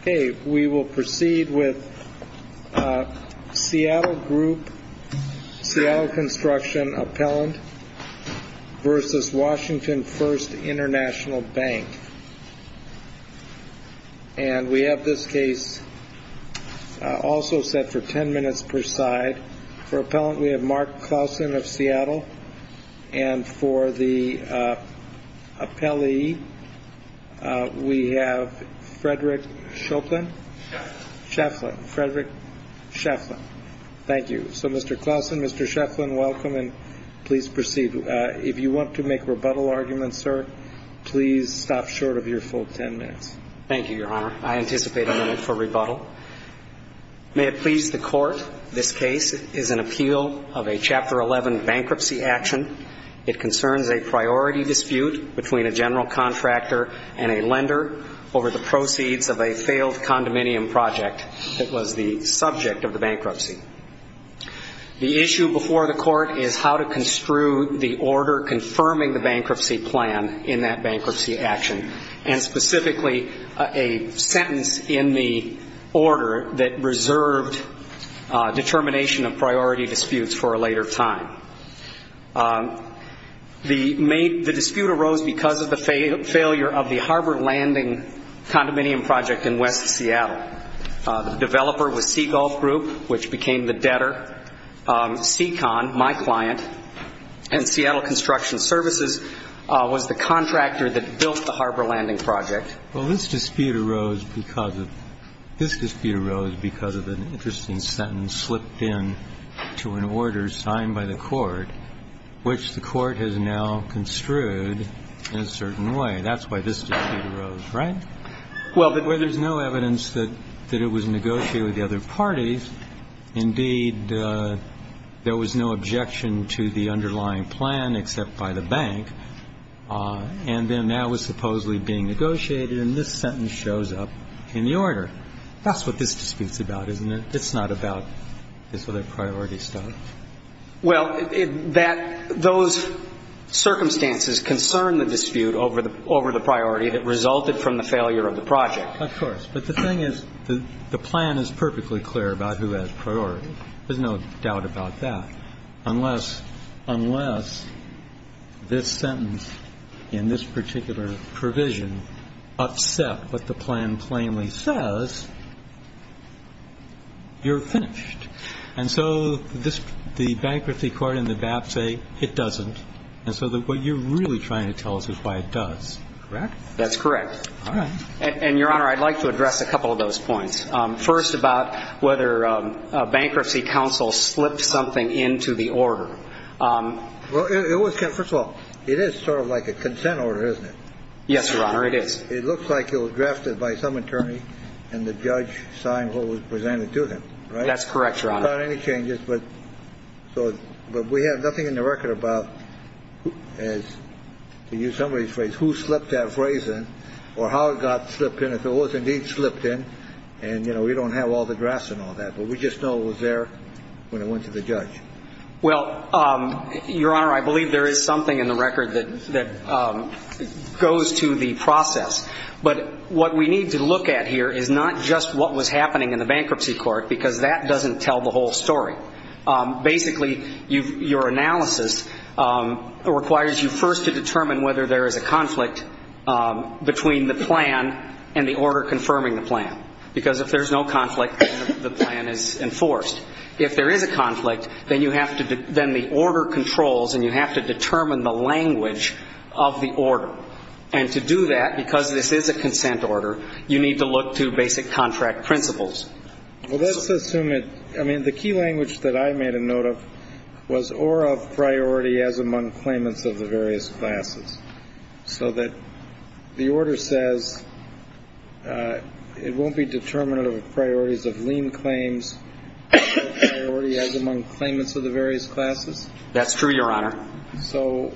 Okay, we will proceed with Seattle Construction Appellant versus Washington First International Bank. And we have this case also set for 10 minutes per side. For appellant, we have Mark Clausen of Seattle. And for the appellee, we have Frederick Scheflin. Thank you. So, Mr. Clausen, Mr. Scheflin, welcome, and please proceed. If you want to make rebuttal arguments, sir, please stop short of your full 10 minutes. Thank you, Your Honor. I anticipate a minute for rebuttal. May it please the Court, this case is an appeal of a Chapter 11 bankruptcy action. It concerns a priority dispute between a general contractor and a lender over the proceeds of a failed condominium project that was the subject of the bankruptcy. The issue before the Court is how to construe the order confirming the bankruptcy plan in that bankruptcy action, and specifically a sentence in the order that reserved determination of priority disputes for a later time. The dispute arose because of the failure of the harbor landing condominium project in West Seattle. The developer was Seagulf Group, which became the debtor. Seacon, my client, and Seattle Construction Services was the contractor that built the harbor landing project. Well, this dispute arose because of an interesting sentence slipped in to an order signed by the Court, which the Court has now construed in a certain way. That's why this dispute arose, right? Well, there's no evidence that it was negotiated with the other parties. Indeed, there was no objection to the underlying plan except by the bank, and then that was supposedly being negotiated, and this sentence shows up in the order. That's what this dispute's about, isn't it? It's not about this other priority stuff. Well, that those circumstances concern the dispute over the priority that resulted from the failure of the project. Of course. But the thing is, the plan is perfectly clear about who has priority. There's no doubt about that. Unless this sentence in this particular provision upset what the plan plainly says, you're finished. And so the bankruptcy court and the BAP say it doesn't, and so what you're really trying to tell us is why it does. Correct? That's correct. All right. And, Your Honor, I'd like to address a couple of those points. First, about whether a bankruptcy counsel slipped something into the order. Well, it was, first of all, it is sort of like a consent order, isn't it? Yes, Your Honor, it is. It looks like it was drafted by some attorney and the judge signed what was presented to him, right? That's correct, Your Honor. Without any changes, but we have nothing in the record about, to use somebody's phrase, who slipped that phrase in or how it got slipped in, if it was indeed slipped in, and, you know, we don't have all the drafts and all that, but we just know it was there when it went to the judge. Well, Your Honor, I believe there is something in the record that goes to the process. But what we need to look at here is not just what was happening in the bankruptcy court, because that doesn't tell the whole story. Basically, your analysis requires you first to determine whether there is a conflict between the plan and the order confirming the plan, because if there's no conflict, the plan is enforced. If there is a conflict, then you have to do the order controls and you have to determine the language of the order. And to do that, because this is a consent order, you need to look to basic contract principles. Well, let's assume it – I mean, the key language that I made a note of was, or of priority as among claimants of the various classes, so that the order says it won't be determinative of priorities of lien claims, or of priority as among claimants of the various classes? That's true, Your Honor. So,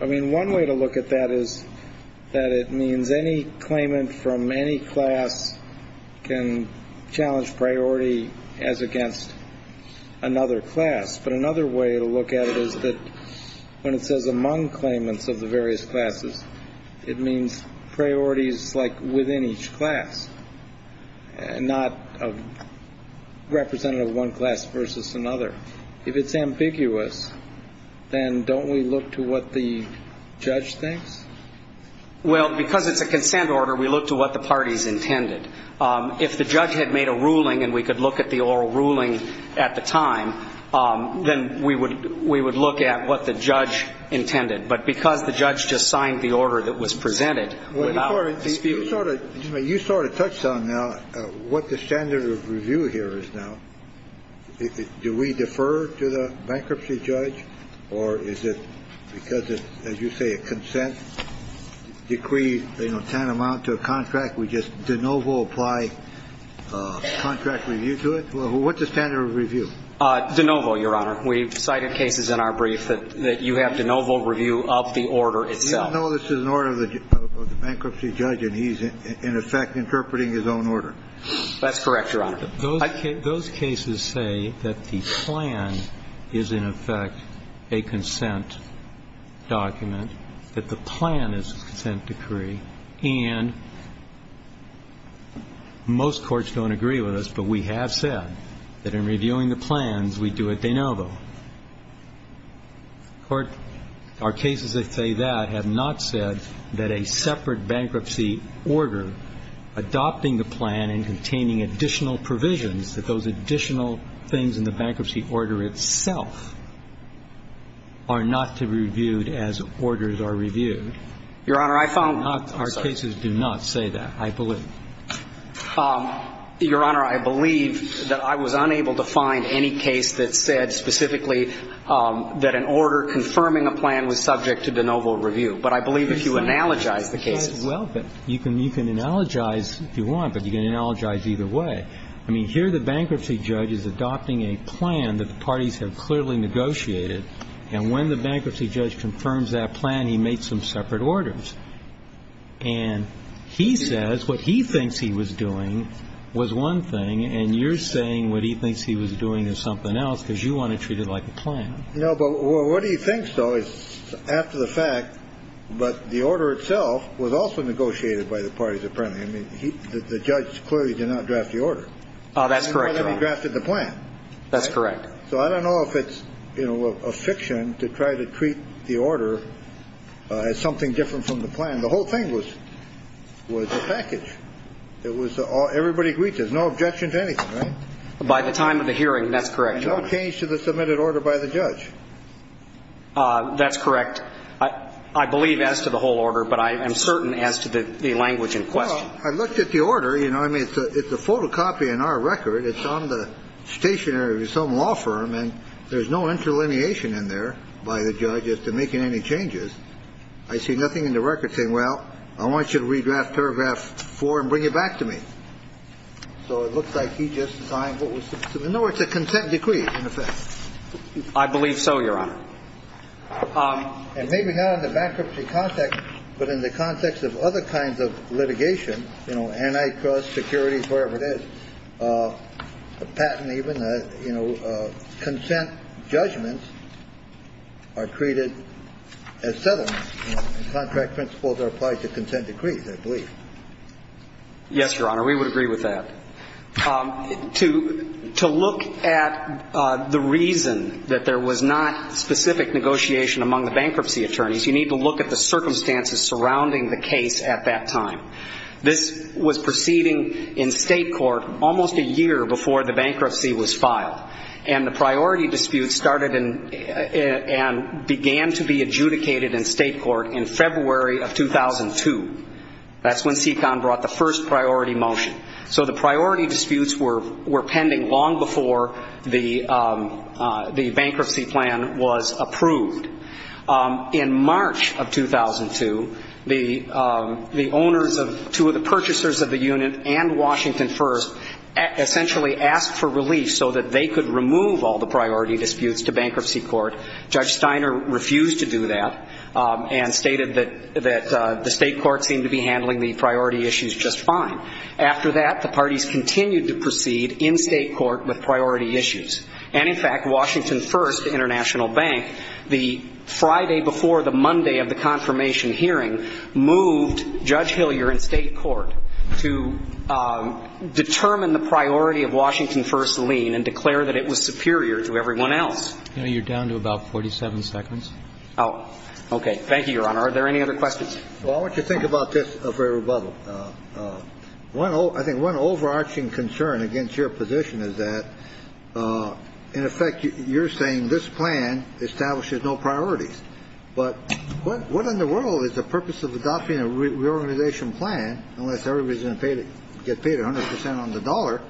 I mean, one way to look at that is that it means any claimant from any class can challenge priority as against another class. But another way to look at it is that when it says among claimants of the various classes, it means priorities like within each class, not representative of one class versus another. If it's ambiguous, then don't we look to what the judge thinks? Well, because it's a consent order, we look to what the parties intended. If the judge had made a ruling and we could look at the oral ruling at the time, then we would look at what the judge intended. But because the judge just signed the order that was presented without dispute – Do we defer to the bankruptcy judge? Or is it because, as you say, a consent decree, you know, tantamount to a contract, we just de novo apply contract review to it? What's the standard of review? De novo, Your Honor. We've cited cases in our brief that you have de novo review of the order itself. You don't know this is an order of the bankruptcy judge and he's in effect interpreting his own order. That's correct, Your Honor. Those cases say that the plan is in effect a consent document, that the plan is a consent decree. And most courts don't agree with us, but we have said that in reviewing the plans, we do a de novo. Our cases that say that have not said that a separate bankruptcy order adopting the plan and containing additional provisions, that those additional things in the bankruptcy order itself are not to be reviewed as orders are reviewed. Your Honor, I found – Our cases do not say that, I believe. Your Honor, I believe that I was unable to find any case that said specifically that an order confirming a plan was subject to de novo review. But I believe if you analogize the cases – Well, you can analogize if you want, but you can analogize either way. I mean, here the bankruptcy judge is adopting a plan that the parties have clearly negotiated, and when the bankruptcy judge confirms that plan, he makes some separate orders. And he says what he thinks he was doing was one thing, and you're saying what he thinks he was doing is something else because you want to treat it like a plan. No, but what he thinks, though, is after the fact, but the order itself was also negotiated by the parties apparently. I mean, the judge clearly did not draft the order. That's correct, Your Honor. He drafted the plan. That's correct. So I don't know if it's a fiction to try to treat the order as something different from the plan. The whole thing was a package. It was – everybody agreed to it. There's no objection to anything, right? By the time of the hearing, that's correct, Your Honor. That would change to the submitted order by the judge. That's correct. I believe as to the whole order, but I am certain as to the language in question. Well, I looked at the order. You know, I mean, it's a photocopy in our record. It's on the stationery of some law firm, and there's no interlineation in there by the judge as to making any changes. I see nothing in the record saying, well, I want you to redraft paragraph 4 and bring it back to me. So it looks like he just signed what was – no, it's a consent decree. I believe so, Your Honor. And maybe not in the bankruptcy context, but in the context of other kinds of litigation, you know, antitrust, securities, wherever it is, a patent even, you know, consent judgments are treated as settlements. Contract principles are applied to consent decrees, I believe. Yes, Your Honor. We would agree with that. To look at the reason that there was not specific negotiation among the bankruptcy attorneys, you need to look at the circumstances surrounding the case at that time. This was proceeding in state court almost a year before the bankruptcy was filed. And the priority dispute started and began to be adjudicated in state court in February of 2002. That's when SECON brought the first priority motion. So the priority disputes were pending long before the bankruptcy plan was approved. In March of 2002, the owners of – two of the purchasers of the unit and Washington First essentially asked for relief so that they could remove all the priority disputes to bankruptcy court. Judge Steiner refused to do that and stated that the state court seemed to be handling the priority issues just fine. After that, the parties continued to proceed in state court with priority issues. And, in fact, Washington First International Bank, the Friday before the Monday of the confirmation hearing, moved Judge Hillier in state court to determine the priority of Washington First's lien and declare that it was superior to everyone else. You're down to about 47 seconds. Oh, okay. Thank you, Your Honor. Are there any other questions? Well, I want you to think about this for a rebuttal. One – I think one overarching concern against your position is that, in effect, you're saying this plan establishes no priorities. But what in the world is the purpose of adopting a reorganization plan unless everybody is going to get paid 100 percent on the dollar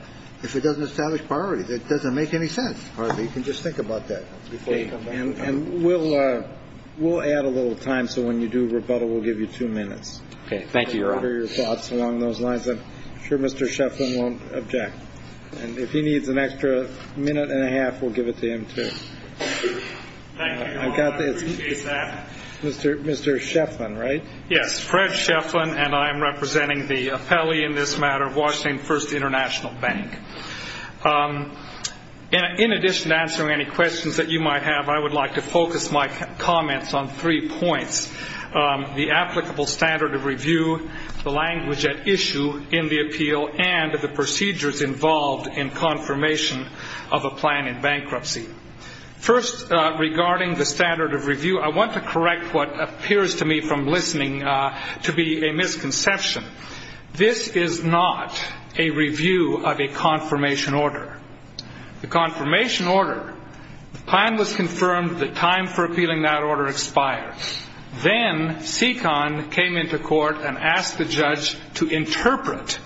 if it doesn't establish priorities? It doesn't make any sense. You can just think about that. And we'll add a little time, so when you do rebuttal, we'll give you two minutes. Okay. Thank you, Your Honor. I'd like to hear your thoughts along those lines. I'm sure Mr. Sheflin won't object. And if he needs an extra minute and a half, we'll give it to him, too. Thank you, Your Honor. I appreciate that. Mr. Sheflin, right? Yes, Fred Sheflin, and I am representing the appellee in this matter, Washington First International Bank. In addition to answering any questions that you might have, I would like to focus my comments on three points, the applicable standard of review, the language at issue in the appeal, and the procedures involved in confirmation of a plan in bankruptcy. First, regarding the standard of review, I want to correct what appears to me from listening to be a misconception. This is not a review of a confirmation order. The confirmation order, the plan was confirmed, the time for appealing that order expired. Then SECON came into court and asked the judge to interpret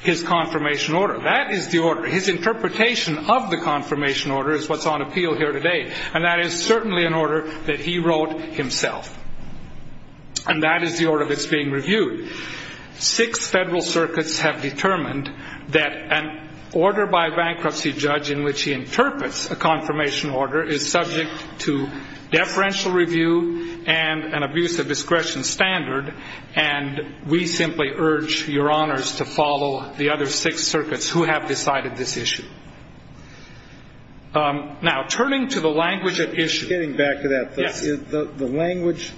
his confirmation order. That is the order. His interpretation of the confirmation order is what's on appeal here today, and that is certainly an order that he wrote himself. And that is the order that's being reviewed. Six federal circuits have determined that an order by a bankruptcy judge in which he interprets a confirmation order is subject to deferential review and an abuse of discretion standard, and we simply urge Your Honors to follow the other six circuits who have decided this issue. Now, turning to the language at issue. Getting back to that. Yes. The language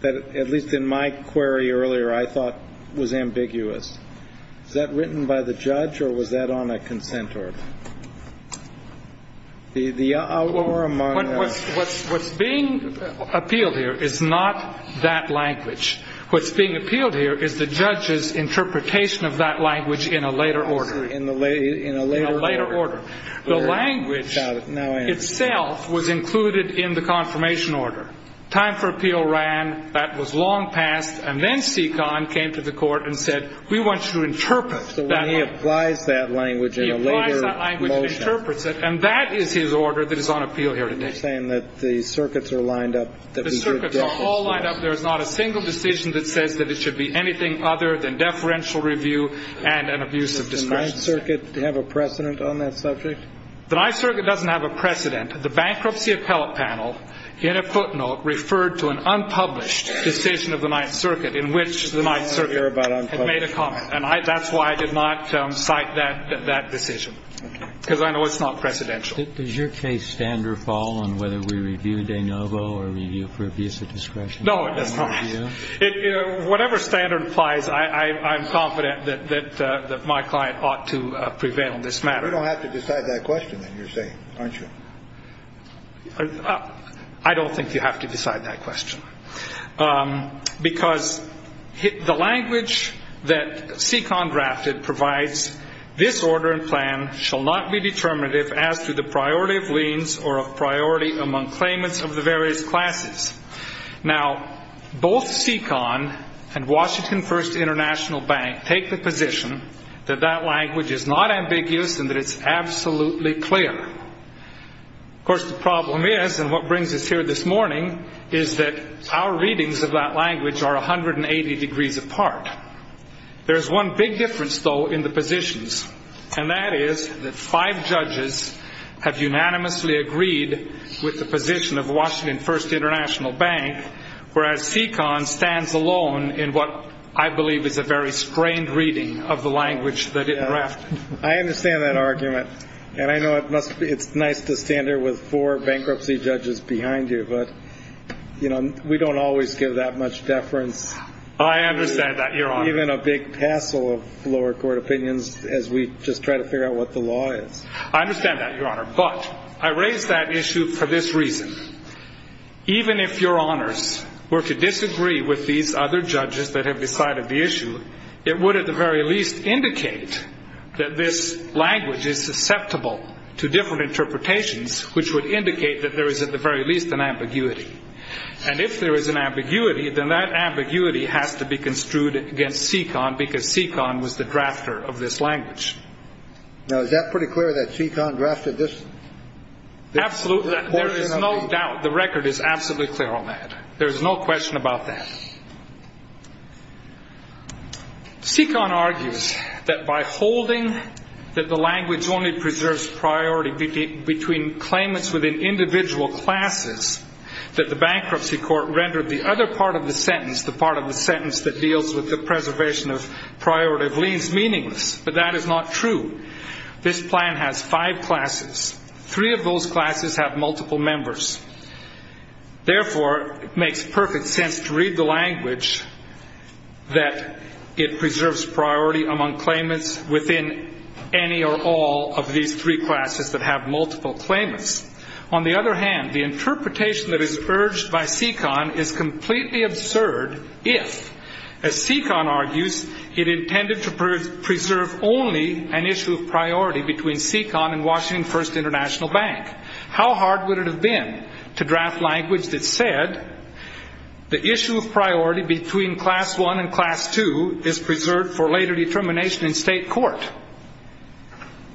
that, at least in my query earlier, I thought was ambiguous. Is that written by the judge, or was that on a consent order? What's being appealed here is not that language. What's being appealed here is the judge's interpretation of that language in a later order. In a later order. The language itself was included in the confirmation order. Time for appeal ran. That was long past. And then SECON came to the court and said, we want you to interpret that. So when he applies that language in a later motion. He applies that language and interprets it, and that is his order that is on appeal here today. You're saying that the circuits are lined up that we should defer. The circuits are all lined up. There is not a single decision that says that it should be anything other than deferential review and an abuse of discretion. Does the Ninth Circuit have a precedent on that subject? The Ninth Circuit doesn't have a precedent. The bankruptcy appellate panel, in a footnote, referred to an unpublished decision of the Ninth Circuit in which the Ninth Circuit had made a comment. And that's why I did not cite that decision, because I know it's not precedential. Does your case standard fall on whether we review de novo or review for abuse of discretion? No, it does not. Whatever standard applies, I'm confident that my client ought to prevail on this matter. You don't have to decide that question, then, you're saying, aren't you? I don't think you have to decide that question. Because the language that SECON drafted provides, this order and plan shall not be determinative as to the priority of liens or of priority among claimants of the various classes. Now, both SECON and Washington First International Bank take the position that that language is not ambiguous and that it's absolutely clear. Of course, the problem is, and what brings us here this morning, is that our readings of that language are 180 degrees apart. There is one big difference, though, in the positions, and that is that five judges have unanimously agreed with the position of Washington First International Bank, whereas SECON stands alone in what I believe is a very strained reading of the language that it drafted. I understand that argument, and I know it's nice to stand here with four bankruptcy judges behind you, but we don't always give that much deference. I understand that, Your Honor. Even a big tassel of lower court opinions as we just try to figure out what the law is. I understand that, Your Honor, but I raise that issue for this reason. Even if Your Honors were to disagree with these other judges that have decided the issue, it would at the very least indicate that this language is susceptible to different interpretations which would indicate that there is at the very least an ambiguity. And if there is an ambiguity, then that ambiguity has to be construed against SECON because SECON was the drafter of this language. Now, is that pretty clear that SECON drafted this? Absolutely. There is no doubt. The record is absolutely clear on that. There is no question about that. SECON argues that by holding that the language only preserves priority between claimants within individual classes, that the bankruptcy court rendered the other part of the sentence, the part of the sentence that deals with the preservation of priority, leaves meaningless. But that is not true. This plan has five classes. Three of those classes have multiple members. Therefore, it makes perfect sense to read the language that it preserves priority among claimants within any or all of these three classes that have multiple claimants. On the other hand, the interpretation that is urged by SECON is completely absurd if, as SECON argues, it intended to preserve only an issue of priority between SECON and Washington First International Bank. How hard would it have been to draft language that said, the issue of priority between class one and class two is preserved for later determination in state court?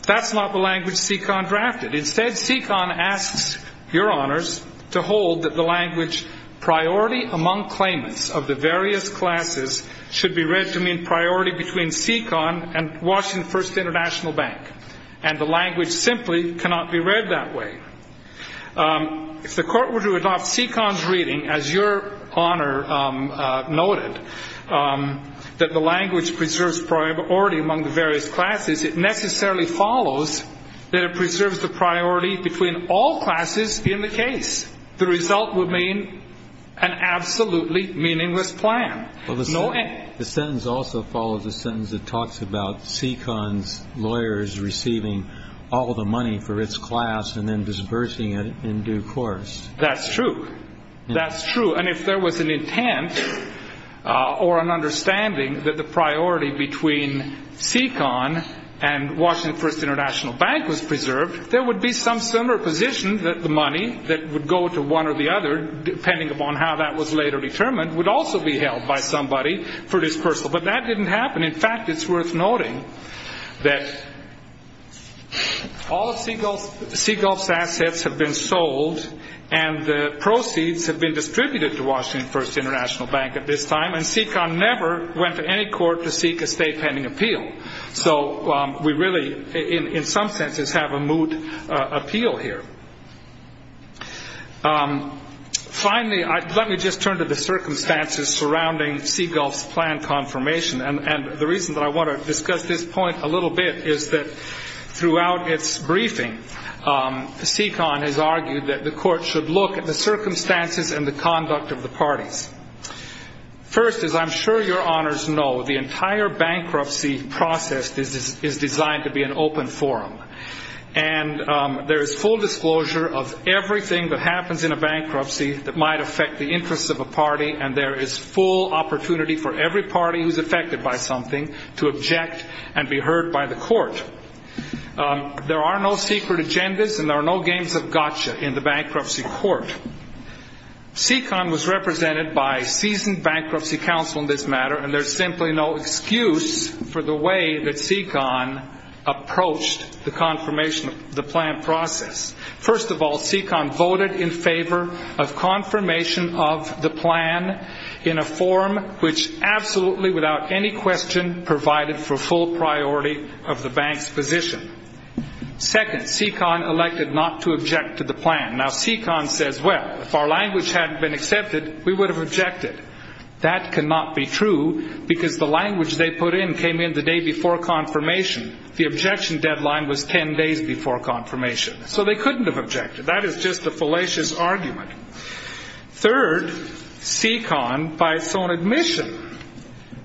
That's not the language SECON drafted. Instead, SECON asks your honors to hold that the language, priority among claimants of the various classes, should be read to mean priority between SECON and Washington First International Bank. And the language simply cannot be read that way. If the court were to adopt SECON's reading, as your honor noted, that the language preserves priority among the various classes, it necessarily follows that it preserves the priority between all classes in the case. The result would mean an absolutely meaningless plan. The sentence also follows a sentence that talks about SECON's lawyers receiving all the money for its class and then disbursing it in due course. That's true. That's true. And if there was an intent or an understanding that the priority between SECON and Washington First International Bank was preserved, there would be some similar position that the money that would go to one or the other, depending upon how that was later determined, would also be held by somebody for disbursal. But that didn't happen. In fact, it's worth noting that all of Seagulf's assets have been sold and the proceeds have been distributed to Washington First International Bank at this time, and SECON never went to any court to seek a state pending appeal. So we really, in some senses, have a moot appeal here. Finally, let me just turn to the circumstances surrounding Seagulf's plan confirmation. And the reason that I want to discuss this point a little bit is that throughout its briefing, SECON has argued that the court should look at the circumstances and the conduct of the parties. First, as I'm sure your honors know, the entire bankruptcy process is designed to be an open forum. And there is full disclosure of everything that happens in a bankruptcy that might affect the interests of a party, and there is full opportunity for every party who's affected by something to object and be heard by the court. There are no secret agendas and there are no games of gotcha in the bankruptcy court. SECON was represented by seasoned bankruptcy counsel in this matter, and there's simply no excuse for the way that SECON approached the confirmation of the plan process. First of all, SECON voted in favor of confirmation of the plan in a forum which absolutely, without any question, provided for full priority of the bank's position. Second, SECON elected not to object to the plan. Now, SECON says, well, if our language hadn't been accepted, we would have objected. That cannot be true because the language they put in came in the day before confirmation. The objection deadline was 10 days before confirmation. So they couldn't have objected. That is just a fallacious argument. Third, SECON, by its own admission,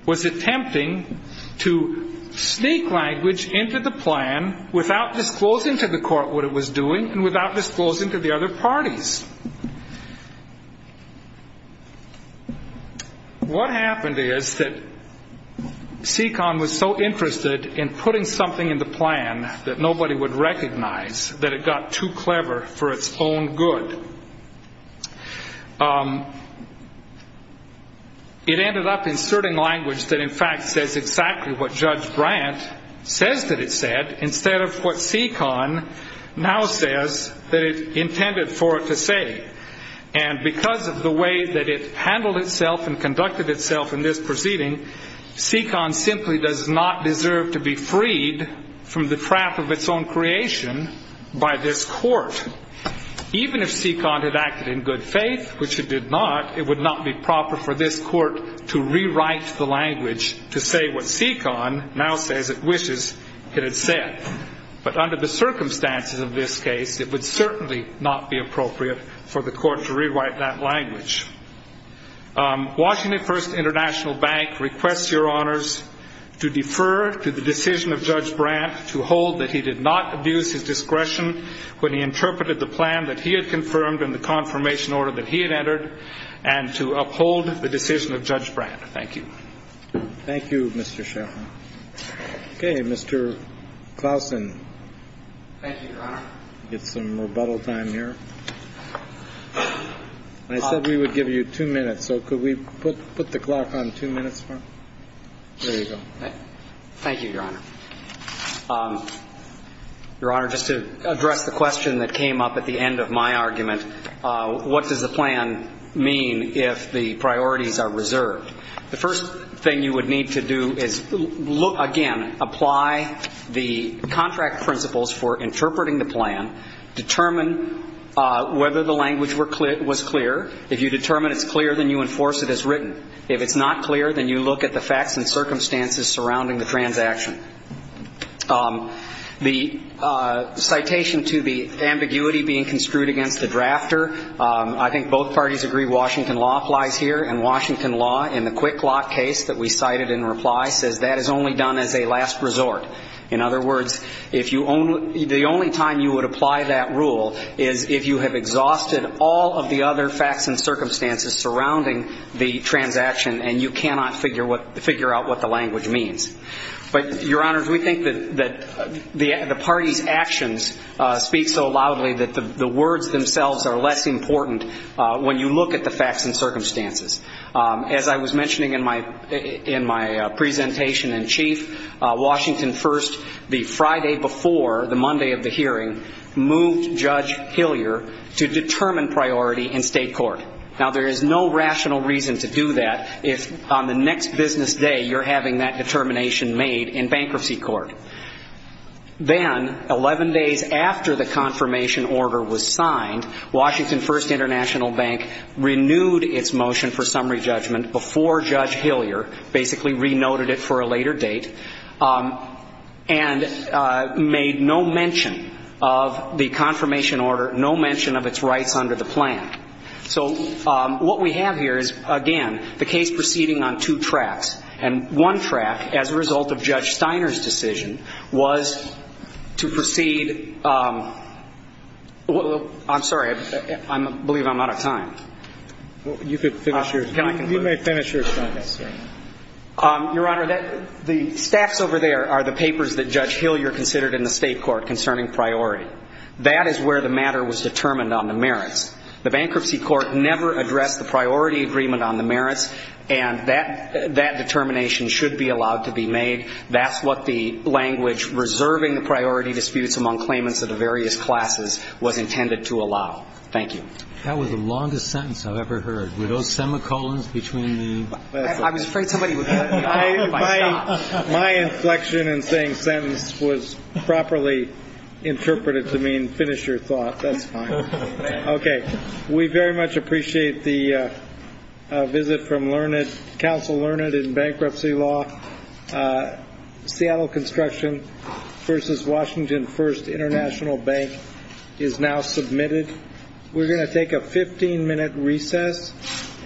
was attempting to sneak language into the plan without disclosing to the court what it was doing and without disclosing to the other parties. What happened is that SECON was so interested in putting something in the plan that nobody would recognize, that it got too clever for its own good. It ended up inserting language that, in fact, says exactly what Judge Brandt says that it said instead of what SECON now says that it intended for it to say. And because of the way that it handled itself and conducted itself in this proceeding, SECON simply does not deserve to be freed from the trap of its own creation by this court. Even if SECON had acted in good faith, which it did not, it would not be proper for this court to rewrite the language to say what SECON now says it wishes it had said. But under the circumstances of this case, it would certainly not be appropriate for the court to rewrite that language. Washington First International Bank requests Your Honors to defer to the decision of Judge Brandt to hold that he did not abuse his discretion when he interpreted the plan that he had confirmed and the confirmation order that he had entered, and to uphold the decision of Judge Brandt. Thank you. Thank you, Mr. Sheffield. Okay, Mr. Klausen. Thank you, Your Honor. We'll get some rebuttal time here. I said we would give you two minutes, so could we put the clock on two minutes? There you go. Thank you, Your Honor. Your Honor, just to address the question that came up at the end of my argument, what does the plan mean if the priorities are reserved? The first thing you would need to do is, again, apply the contract principles for interpreting the plan, determine whether the language was clear. If you determine it's clear, then you enforce it as written. If it's not clear, then you look at the facts and circumstances surrounding the transaction. The citation to the ambiguity being construed against the drafter, I think both parties agree Washington law flies here, and Washington law, in the quick lock case that we cited in reply, says that is only done as a last resort. In other words, the only time you would apply that rule is if you have exhausted all of the other facts and circumstances surrounding the transaction and you cannot figure out what the language means. But, Your Honors, we think that the party's actions speak so loudly that the words themselves are less important when you look at the facts and circumstances. As I was mentioning in my presentation in chief, Washington First, the Friday before the Monday of the hearing, moved Judge Hillier to determine priority in state court. Now, there is no rational reason to do that if on the next business day you're having that determination made in bankruptcy court. Then, 11 days after the confirmation order was signed, Washington First International Bank renewed its motion for summary judgment before Judge Hillier, basically renoted it for a later date, and made no mention of the confirmation order, no mention of its rights under the plan. So what we have here is, again, the case proceeding on two tracks. And one track, as a result of Judge Steiner's decision, was to proceed. I'm sorry. I believe I'm out of time. You may finish your sentence. Your Honor, the staffs over there are the papers that Judge Hillier considered in the state court concerning priority. That is where the matter was determined on the merits. The bankruptcy court never addressed the priority agreement on the merits, and that determination should be allowed to be made. That's what the language reserving the priority disputes among claimants of the various classes was intended to allow. Thank you. That was the longest sentence I've ever heard. Were those semicolons between the- I was afraid somebody would- My inflection in saying sentence was properly interpreted to mean finish your thought. That's fine. Okay. We very much appreciate the visit from Learned, Counsel Learned in bankruptcy law. Seattle Construction v. Washington First International Bank is now submitted. We're going to take a 15-minute recess.